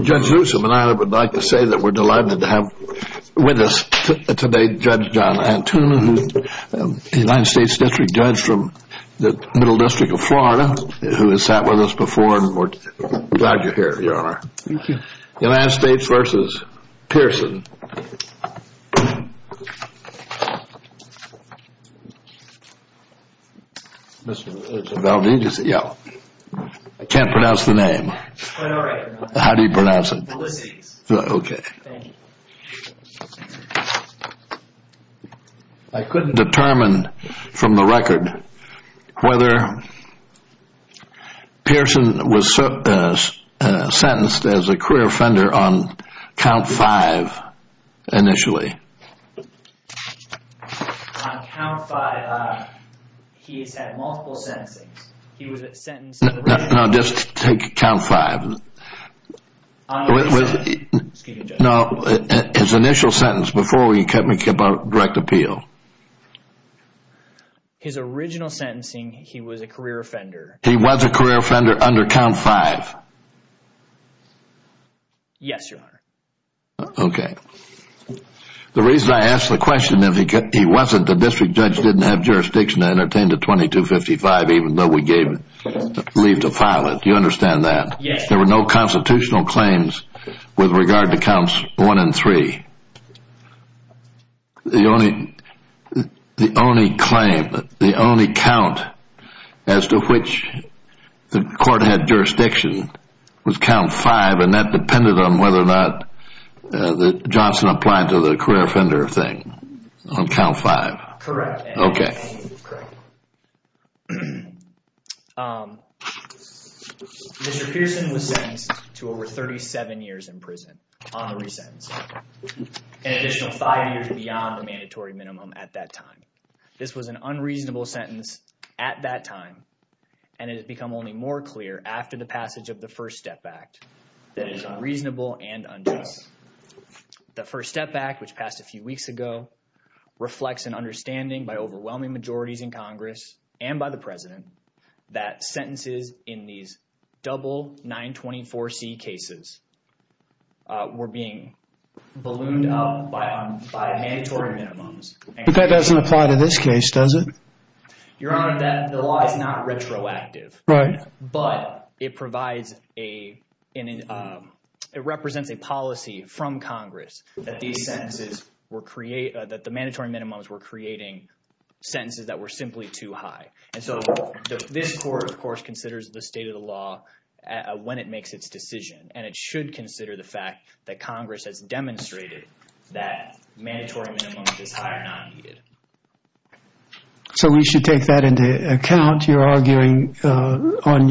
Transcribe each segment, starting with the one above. Judge Loosom and I would like to say that we're delighted to have with us today Judge John Antoonen who is a United States District Judge from the Middle District of Florida, who has sat with us before and we're glad you're here, Your Honor. United States v. Pearson I couldn't determine from the record whether Pearson was sentenced as a career offender on count five initially. On count five he has had multiple sentencing. No, just take count five. No, his initial sentence before he kept on direct appeal. His original sentencing he was a career offender. He was a career offender under count five. Yes, Your Honor. Okay. The reason I ask the question if he wasn't, the district judge didn't have jurisdiction to entertain the 2255 even though we gave leave to file it. Do you understand that? Yes. There were no constitutional claims with regard to counts one and three. The only claim, the only count as to which the court had jurisdiction was count five and that depended on whether or not Johnson applied to the career offender thing on count five. Correct. Okay. Mr. Pearson was sentenced to over 37 years in prison on the resentencing, an additional five years beyond the mandatory minimum at that time. This was an unreasonable sentence at that time and it has become only more clear after the passage of the First Step Act that it is unreasonable and unjust. The First Step Act, which passed a few weeks ago, reflects an understanding by overwhelming majorities in Congress and by the president that sentences in these double 924C cases were being ballooned up by mandatory minimums. But that doesn't apply to this case, does it? Your Honor, the law is not retroactive. Right. But it provides a – it represents a policy from Congress that these sentences were – that the mandatory minimums were creating sentences that were simply too high. And so this court, of course, considers the state of the law when it makes its decision and it should consider the fact that Congress has demonstrated that mandatory minimum is high or not needed. So we should take that into account. You're arguing on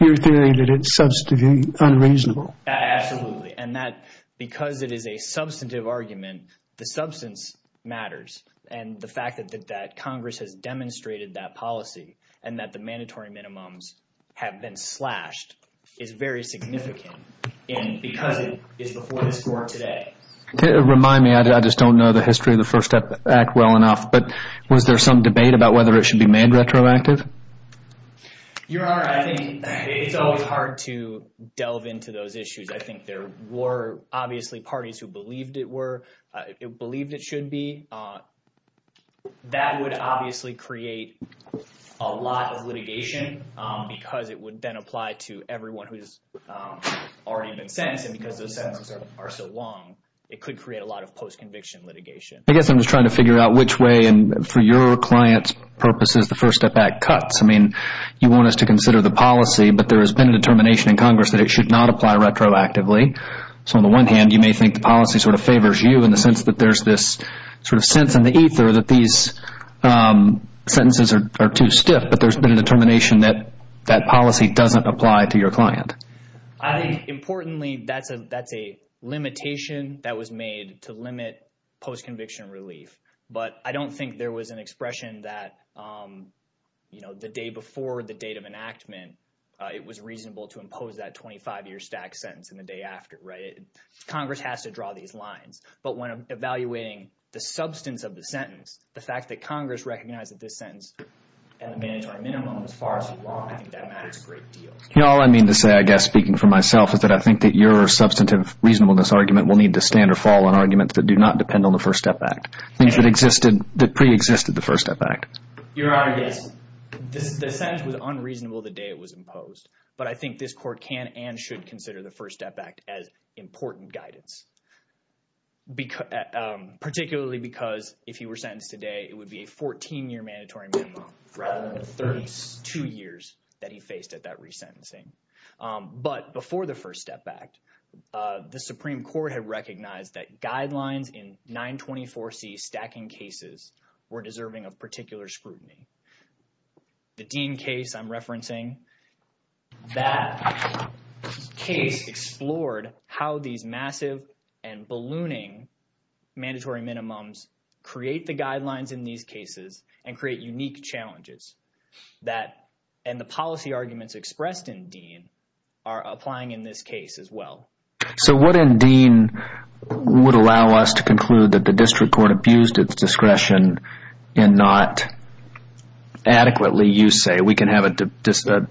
your theory that it's unreasonable. Absolutely. And that because it is a substantive argument, the substance matters. And the fact that Congress has demonstrated that policy and that the mandatory minimums have been slashed is very significant because it is before this court today. Remind me, I just don't know the history of the First Step Act well enough, but was there some debate about whether it should be made retroactive? Your Honor, I think it's always hard to delve into those issues. I think there were obviously parties who believed it were – believed it should be. That would obviously create a lot of litigation because it would then apply to everyone who has already been sentenced. And because those sentences are so long, it could create a lot of post-conviction litigation. I guess I'm just trying to figure out which way – and for your client's purposes, the First Step Act cuts. I mean you want us to consider the policy, but there has been a determination in Congress that it should not apply retroactively. So on the one hand, you may think the policy sort of favors you in the sense that there's this sort of sense in the ether that these sentences are too stiff. But there's been a determination that that policy doesn't apply to your client. I think importantly that's a limitation that was made to limit post-conviction relief. But I don't think there was an expression that the day before the date of enactment, it was reasonable to impose that 25-year stack sentence in the day after. Congress has to draw these lines. But when evaluating the substance of the sentence, the fact that Congress recognizes this sentence and the mandatory minimum as far as the law, I think that matters a great deal. All I mean to say, I guess speaking for myself, is that I think that your substantive reasonableness argument will need to stand or fall on arguments that do not depend on the First Step Act. Things that existed – that preexisted the First Step Act. Your Honor, yes. The sentence was unreasonable the day it was imposed. But I think this court can and should consider the First Step Act as important guidance, particularly because if he were sentenced today, it would be a 14-year mandatory minimum rather than the 32 years that he faced at that resentencing. But before the First Step Act, the Supreme Court had recognized that guidelines in 924C stacking cases were deserving of particular scrutiny. The Dean case I'm referencing, that case explored how these massive and ballooning mandatory minimums create the guidelines in these cases and create unique challenges. And the policy arguments expressed in Dean are applying in this case as well. So what in Dean would allow us to conclude that the district court abused its discretion and not adequately, you say – we can have a discussion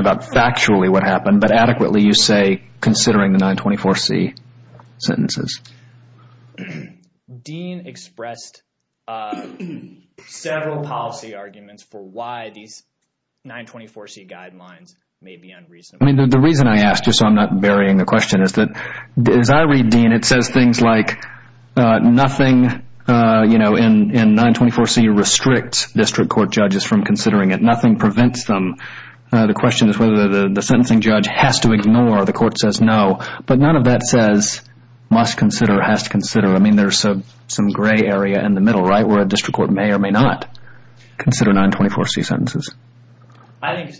about factually what happened – but adequately, you say, considering the 924C sentences? Dean expressed several policy arguments for why these 924C guidelines may be unreasonable. The reason I ask, just so I'm not burying the question, is that as I read Dean, it says things like nothing in 924C restricts district court judges from considering it. Nothing prevents them. The question is whether the sentencing judge has to ignore or the court says no. But none of that says must consider, has to consider. I mean, there's some gray area in the middle, right, where a district court may or may not consider 924C sentences. I think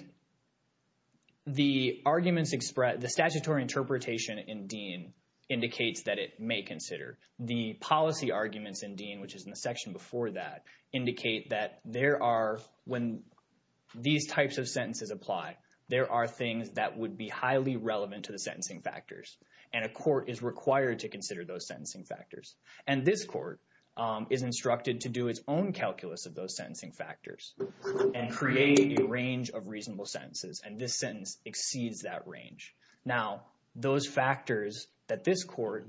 the arguments expressed – the statutory interpretation in Dean indicates that it may consider. The policy arguments in Dean, which is in the section before that, indicate that there are – when these types of sentences apply, there are things that would be highly relevant to the sentencing factors. And a court is required to consider those sentencing factors. And this court is instructed to do its own calculus of those sentencing factors and create a range of reasonable sentences. And this sentence exceeds that range. Now, those factors that this court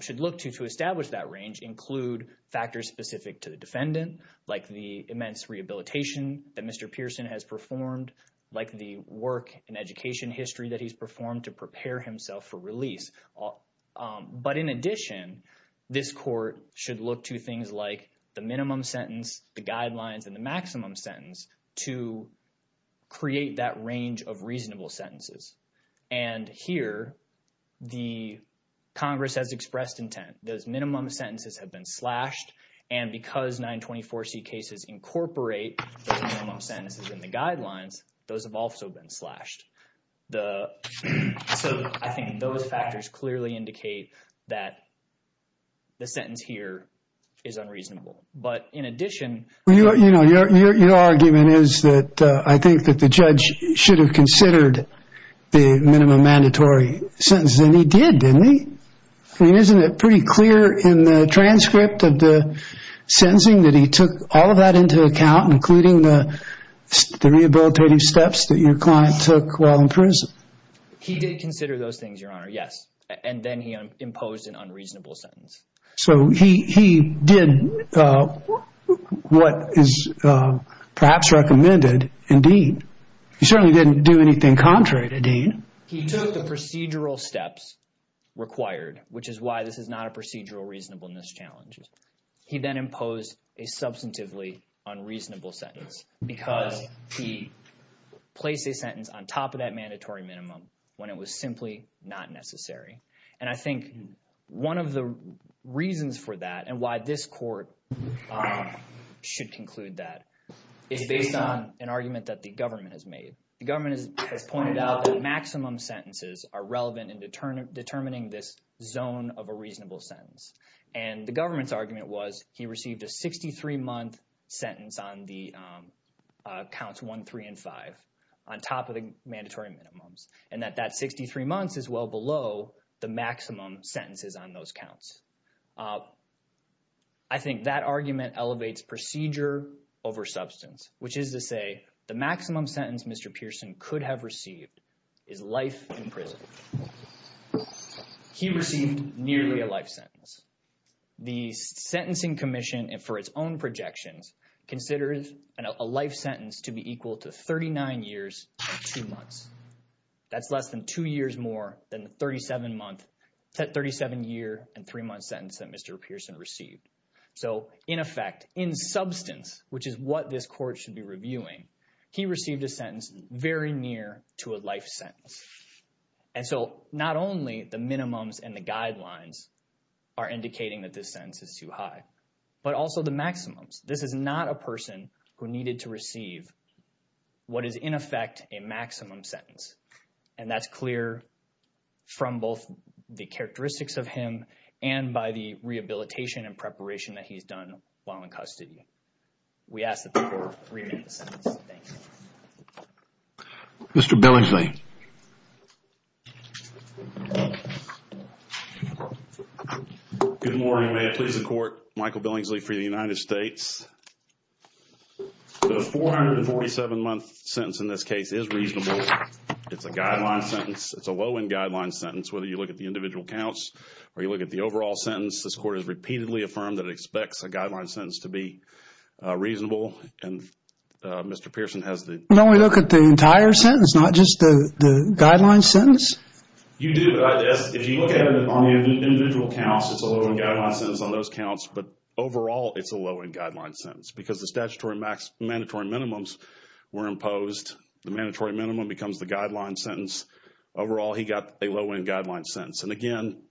should look to to establish that range include factors specific to the defendant, like the immense rehabilitation that Mr. Pearson has performed, like the work and education history that he's performed to prepare himself for release. But in addition, this court should look to things like the minimum sentence, the guidelines, and the maximum sentence to create that range of reasonable sentences. And here the Congress has expressed intent. Those minimum sentences have been slashed. And because 924C cases incorporate those minimum sentences and the guidelines, those have also been slashed. So I think those factors clearly indicate that the sentence here is unreasonable. But in addition – Well, you know, your argument is that I think that the judge should have considered the minimum mandatory sentences. And he did, didn't he? I mean, isn't it pretty clear in the transcript of the sentencing that he took all of that into account, including the rehabilitative steps that your client took while in prison? He did consider those things, Your Honor, yes. And then he imposed an unreasonable sentence. So he did what is perhaps recommended in Dean. He took the procedural steps required, which is why this is not a procedural reasonableness challenge. He then imposed a substantively unreasonable sentence because he placed a sentence on top of that mandatory minimum when it was simply not necessary. And I think one of the reasons for that and why this court should conclude that is based on an argument that the government has made. The government has pointed out that maximum sentences are relevant in determining this zone of a reasonable sentence. And the government's argument was he received a 63-month sentence on the counts 1, 3, and 5 on top of the mandatory minimums. And that that 63 months is well below the maximum sentences on those counts. I think that argument elevates procedure over substance, which is to say the maximum sentence Mr. Pearson could have received is life in prison. He received nearly a life sentence. The Sentencing Commission, for its own projections, considers a life sentence to be equal to 39 years and 2 months. That's less than 2 years more than the 37-year and 3-month sentence that Mr. Pearson received. So, in effect, in substance, which is what this court should be reviewing, he received a sentence very near to a life sentence. And so, not only the minimums and the guidelines are indicating that this sentence is too high, but also the maximums. This is not a person who needed to receive what is, in effect, a maximum sentence. And that's clear from both the characteristics of him and by the rehabilitation and preparation that he's done while in custody. We ask that the court review the sentence. Thank you. Mr. Billingsley. Good morning. May it please the Court, Michael Billingsley for the United States. The 447-month sentence in this case is reasonable. It's a guideline sentence. It's a low-end guideline sentence. Whether you look at the individual counts or you look at the overall sentence, this court has repeatedly affirmed that it expects a guideline sentence to be reasonable. And Mr. Pearson has the... No, we look at the entire sentence, not just the guideline sentence. You do. If you look at it on the individual counts, it's a low-end guideline sentence on those counts. But overall, it's a low-end guideline sentence because the statutory mandatory minimums were imposed. The mandatory minimum becomes the guideline sentence. Overall, he got a low-end guideline sentence. And again,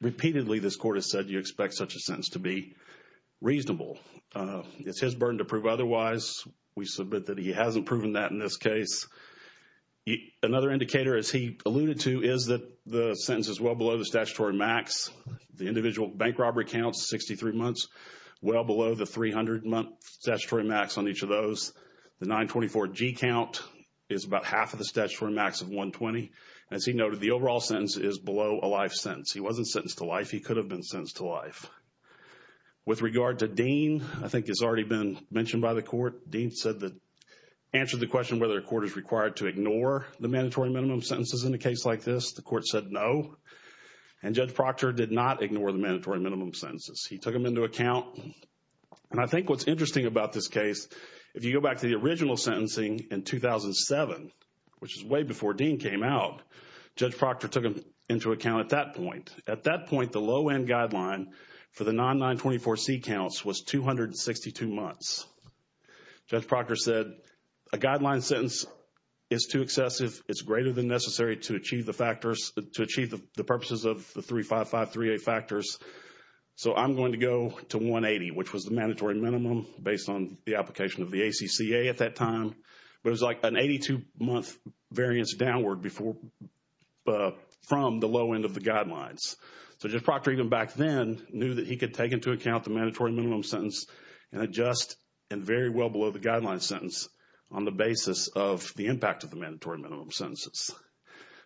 repeatedly, this court has said you expect such a sentence to be reasonable. It's his burden to prove otherwise. We submit that he hasn't proven that in this case. Another indicator, as he alluded to, is that the sentence is well below the statutory max. The individual bank robbery counts, 63 months, well below the 300-month statutory max on each of those. The 924-G count is about half of the statutory max of 120. As he noted, the overall sentence is below a life sentence. He wasn't sentenced to life. He could have been sentenced to life. With regard to Dean, I think it's already been mentioned by the court, Dean answered the question whether a court is required to ignore the mandatory minimum sentences in a case like this. The court said no. And Judge Proctor did not ignore the mandatory minimum sentences. He took them into account. And I think what's interesting about this case, if you go back to the original sentencing in 2007, which is way before Dean came out, Judge Proctor took them into account at that point. At that point, the low-end guideline for the non-924-C counts was 262 months. Judge Proctor said a guideline sentence is too excessive. It's greater than necessary to achieve the factors, to achieve the purposes of the 355-3A factors. So I'm going to go to 180, which was the mandatory minimum based on the application of the ACCA at that time. But it was like an 82-month variance downward from the low-end of the guidelines. So Judge Proctor, even back then, knew that he could take into account the mandatory minimum sentence and adjust and very well below the guideline sentence on the basis of the impact of the mandatory minimum sentences.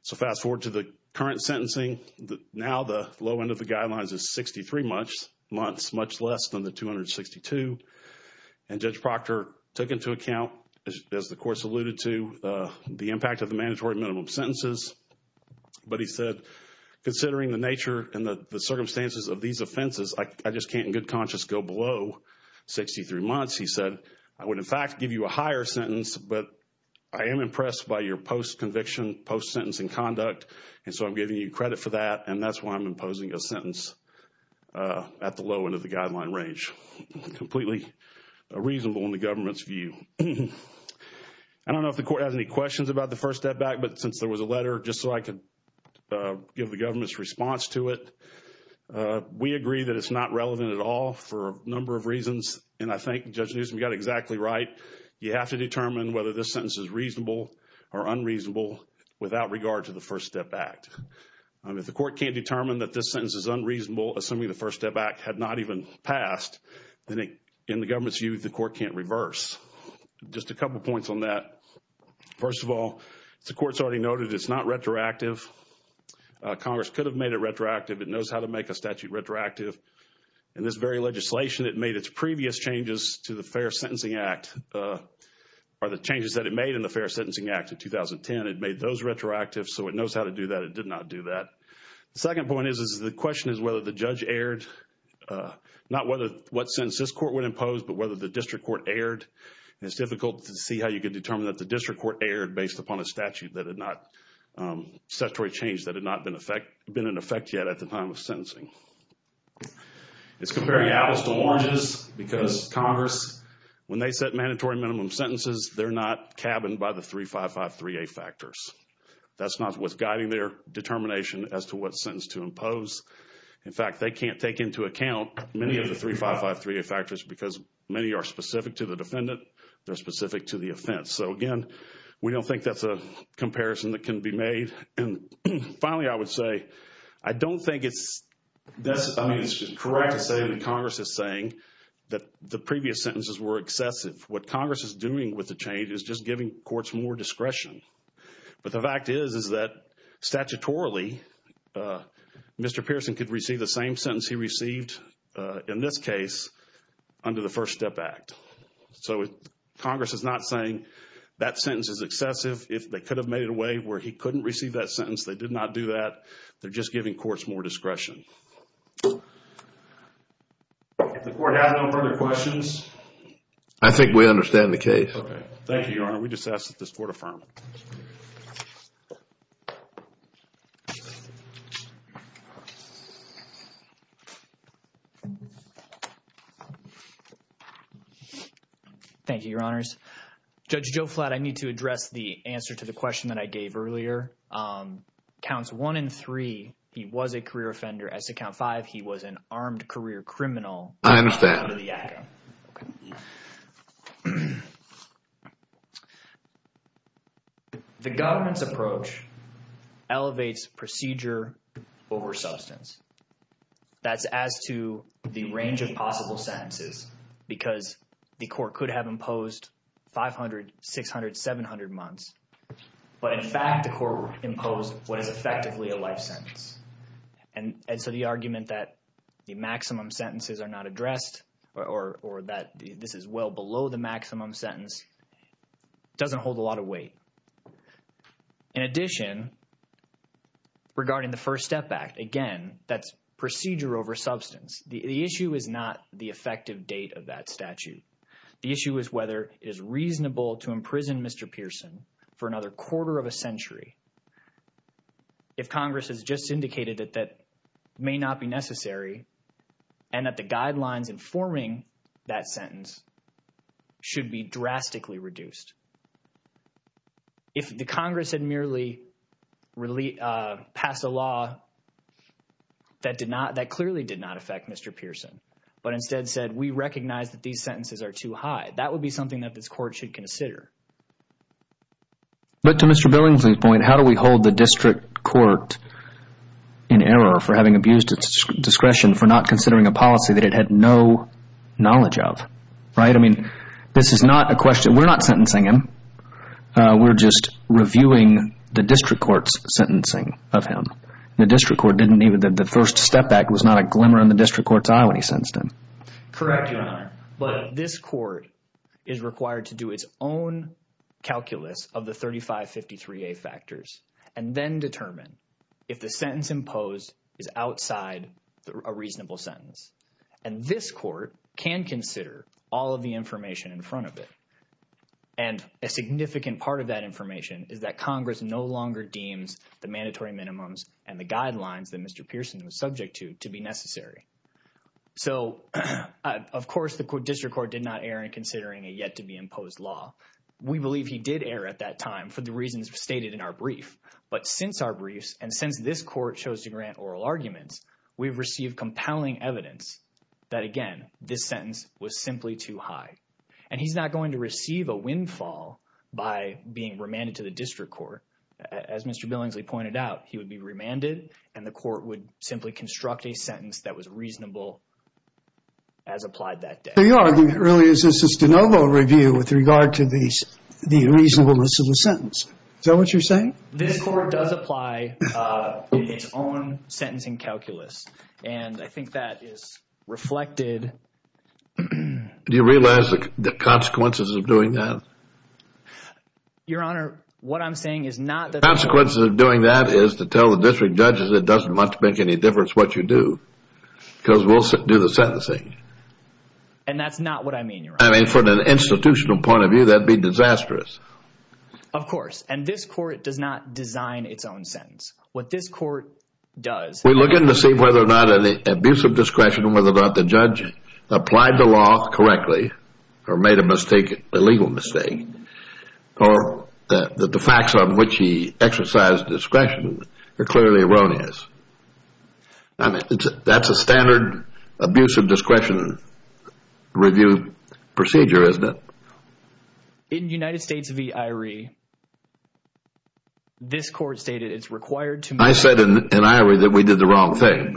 So fast-forward to the current sentencing. Now the low-end of the guidelines is 63 months, much less than the 262. And Judge Proctor took into account, as the course alluded to, the impact of the mandatory minimum sentences. But he said, considering the nature and the circumstances of these offenses, I just can't in good conscience go below 63 months. He said, I would, in fact, give you a higher sentence, but I am impressed by your post-conviction, post-sentencing conduct, and so I'm giving you credit for that, and that's why I'm imposing a sentence at the low-end of the guideline range. Completely reasonable in the government's view. I don't know if the court has any questions about the First Step Act, but since there was a letter, just so I could give the government's response to it, we agree that it's not relevant at all for a number of reasons. And I think Judge Newsom got exactly right. You have to determine whether this sentence is reasonable or unreasonable without regard to the First Step Act. If the court can't determine that this sentence is unreasonable, assuming the First Step Act had not even passed, then in the government's view, the court can't reverse. Just a couple points on that. First of all, the court's already noted it's not retroactive. Congress could have made it retroactive. It knows how to make a statute retroactive. In this very legislation, it made its previous changes to the Fair Sentencing Act, or the changes that it made in the Fair Sentencing Act of 2010, it made those retroactive, so it knows how to do that. It did not do that. The second point is the question is whether the judge erred, not what sentence this court would impose, but whether the district court erred. It's difficult to see how you could determine that the district court erred based upon a statute that had not, statutory change that had not been in effect yet at the time of sentencing. It's comparing apples to oranges because Congress, when they set mandatory minimum sentences, they're not cabined by the 3553A factors. That's not what's guiding their determination as to what sentence to impose. In fact, they can't take into account many of the 3553A factors because many are specific to the defendant. They're specific to the offense. So, again, we don't think that's a comparison that can be made. And finally, I would say I don't think it's correct to say that Congress is saying that the previous sentences were excessive. What Congress is doing with the change is just giving courts more discretion. But the fact is, is that statutorily, Mr. Pearson could receive the same sentence he received in this case under the First Step Act. So, Congress is not saying that sentence is excessive. If they could have made it a way where he couldn't receive that sentence, they did not do that. They're just giving courts more discretion. If the court has no further questions. I think we understand the case. Thank you, Your Honor. We just asked that this court affirm. Thank you, Your Honors. Judge Joe Flatt, I need to address the answer to the question that I gave earlier. Counts one and three, he was a career offender. As to count five, he was an armed career criminal. I understand. The government's approach elevates procedure over substance. That's as to the range of possible sentences because the court could have imposed 500, 600, 700 months. But in fact, the court imposed what is effectively a life sentence. And so the argument that the maximum sentences are not addressed or that this is well below the maximum sentence doesn't hold a lot of weight. In addition, regarding the First Step Act, again, that's procedure over substance. The issue is not the effective date of that statute. The issue is whether it is reasonable to imprison Mr. Pearson for another quarter of a century. If Congress has just indicated that that may not be necessary and that the guidelines informing that sentence should be drastically reduced. If the Congress had merely passed a law that clearly did not affect Mr. Pearson, but instead said we recognize that these sentences are too high, that would be something that this court should consider. But to Mr. Billingsley's point, how do we hold the district court in error for having abused its discretion for not considering a policy that it had no knowledge of, right? I mean, this is not a question – we're not sentencing him. We're just reviewing the district court's sentencing of him. The district court didn't even – the First Step Act was not a glimmer in the district court's eye when he sentenced him. Correct, Your Honor. But this court is required to do its own calculus of the 3553A factors and then determine if the sentence imposed is outside a reasonable sentence. And this court can consider all of the information in front of it. And a significant part of that information is that Congress no longer deems the mandatory minimums and the guidelines that Mr. Pearson was subject to to be necessary. So, of course, the district court did not err in considering a yet-to-be-imposed law. We believe he did err at that time for the reasons stated in our brief. But since our briefs and since this court chose to grant oral arguments, we've received compelling evidence that, again, this sentence was simply too high. And he's not going to receive a windfall by being remanded to the district court. As Mr. Billingsley pointed out, he would be remanded, and the court would simply construct a sentence that was reasonable as applied that day. So you're arguing it really is just a de novo review with regard to the reasonableness of the sentence. Is that what you're saying? This court does apply its own sentencing calculus, and I think that is reflected. Do you realize the consequences of doing that? Your Honor, what I'm saying is not that— The consequences of doing that is to tell the district judges it doesn't much make any difference what you do because we'll do the sentencing. And that's not what I mean, Your Honor. I mean, from an institutional point of view, that would be disastrous. Of course, and this court does not design its own sentence. What this court does— We look in to see whether or not an abuse of discretion, whether or not the judge applied the law correctly or made a mistake, a legal mistake, or that the facts on which he exercised discretion are clearly erroneous. That's a standard abuse of discretion review procedure, isn't it? In United States v. Irie, this court stated it's required to— I said in Irie that we did the wrong thing.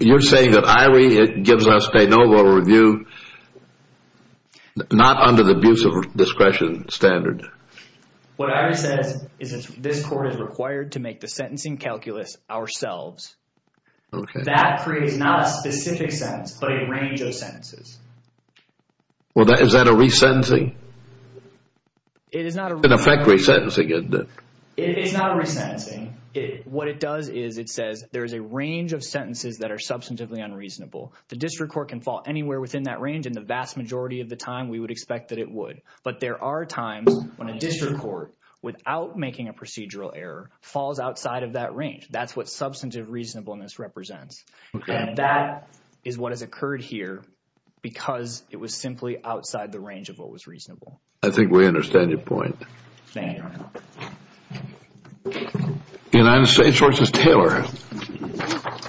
You're saying that Irie gives us a no vote review not under the abuse of discretion standard? What Irie says is this court is required to make the sentencing calculus ourselves. Okay. That creates not a specific sentence but a range of sentences. Well, is that a resentencing? An effect resentencing, isn't it? It's not a resentencing. What it does is it says there is a range of sentences that are substantively unreasonable. The district court can fall anywhere within that range and the vast majority of the time we would expect that it would. But there are times when a district court, without making a procedural error, falls outside of that range. That's what substantive reasonableness represents. Okay. And that is what has occurred here because it was simply outside the range of what was reasonable. I think we understand your point. Thank you. United States v. Taylor.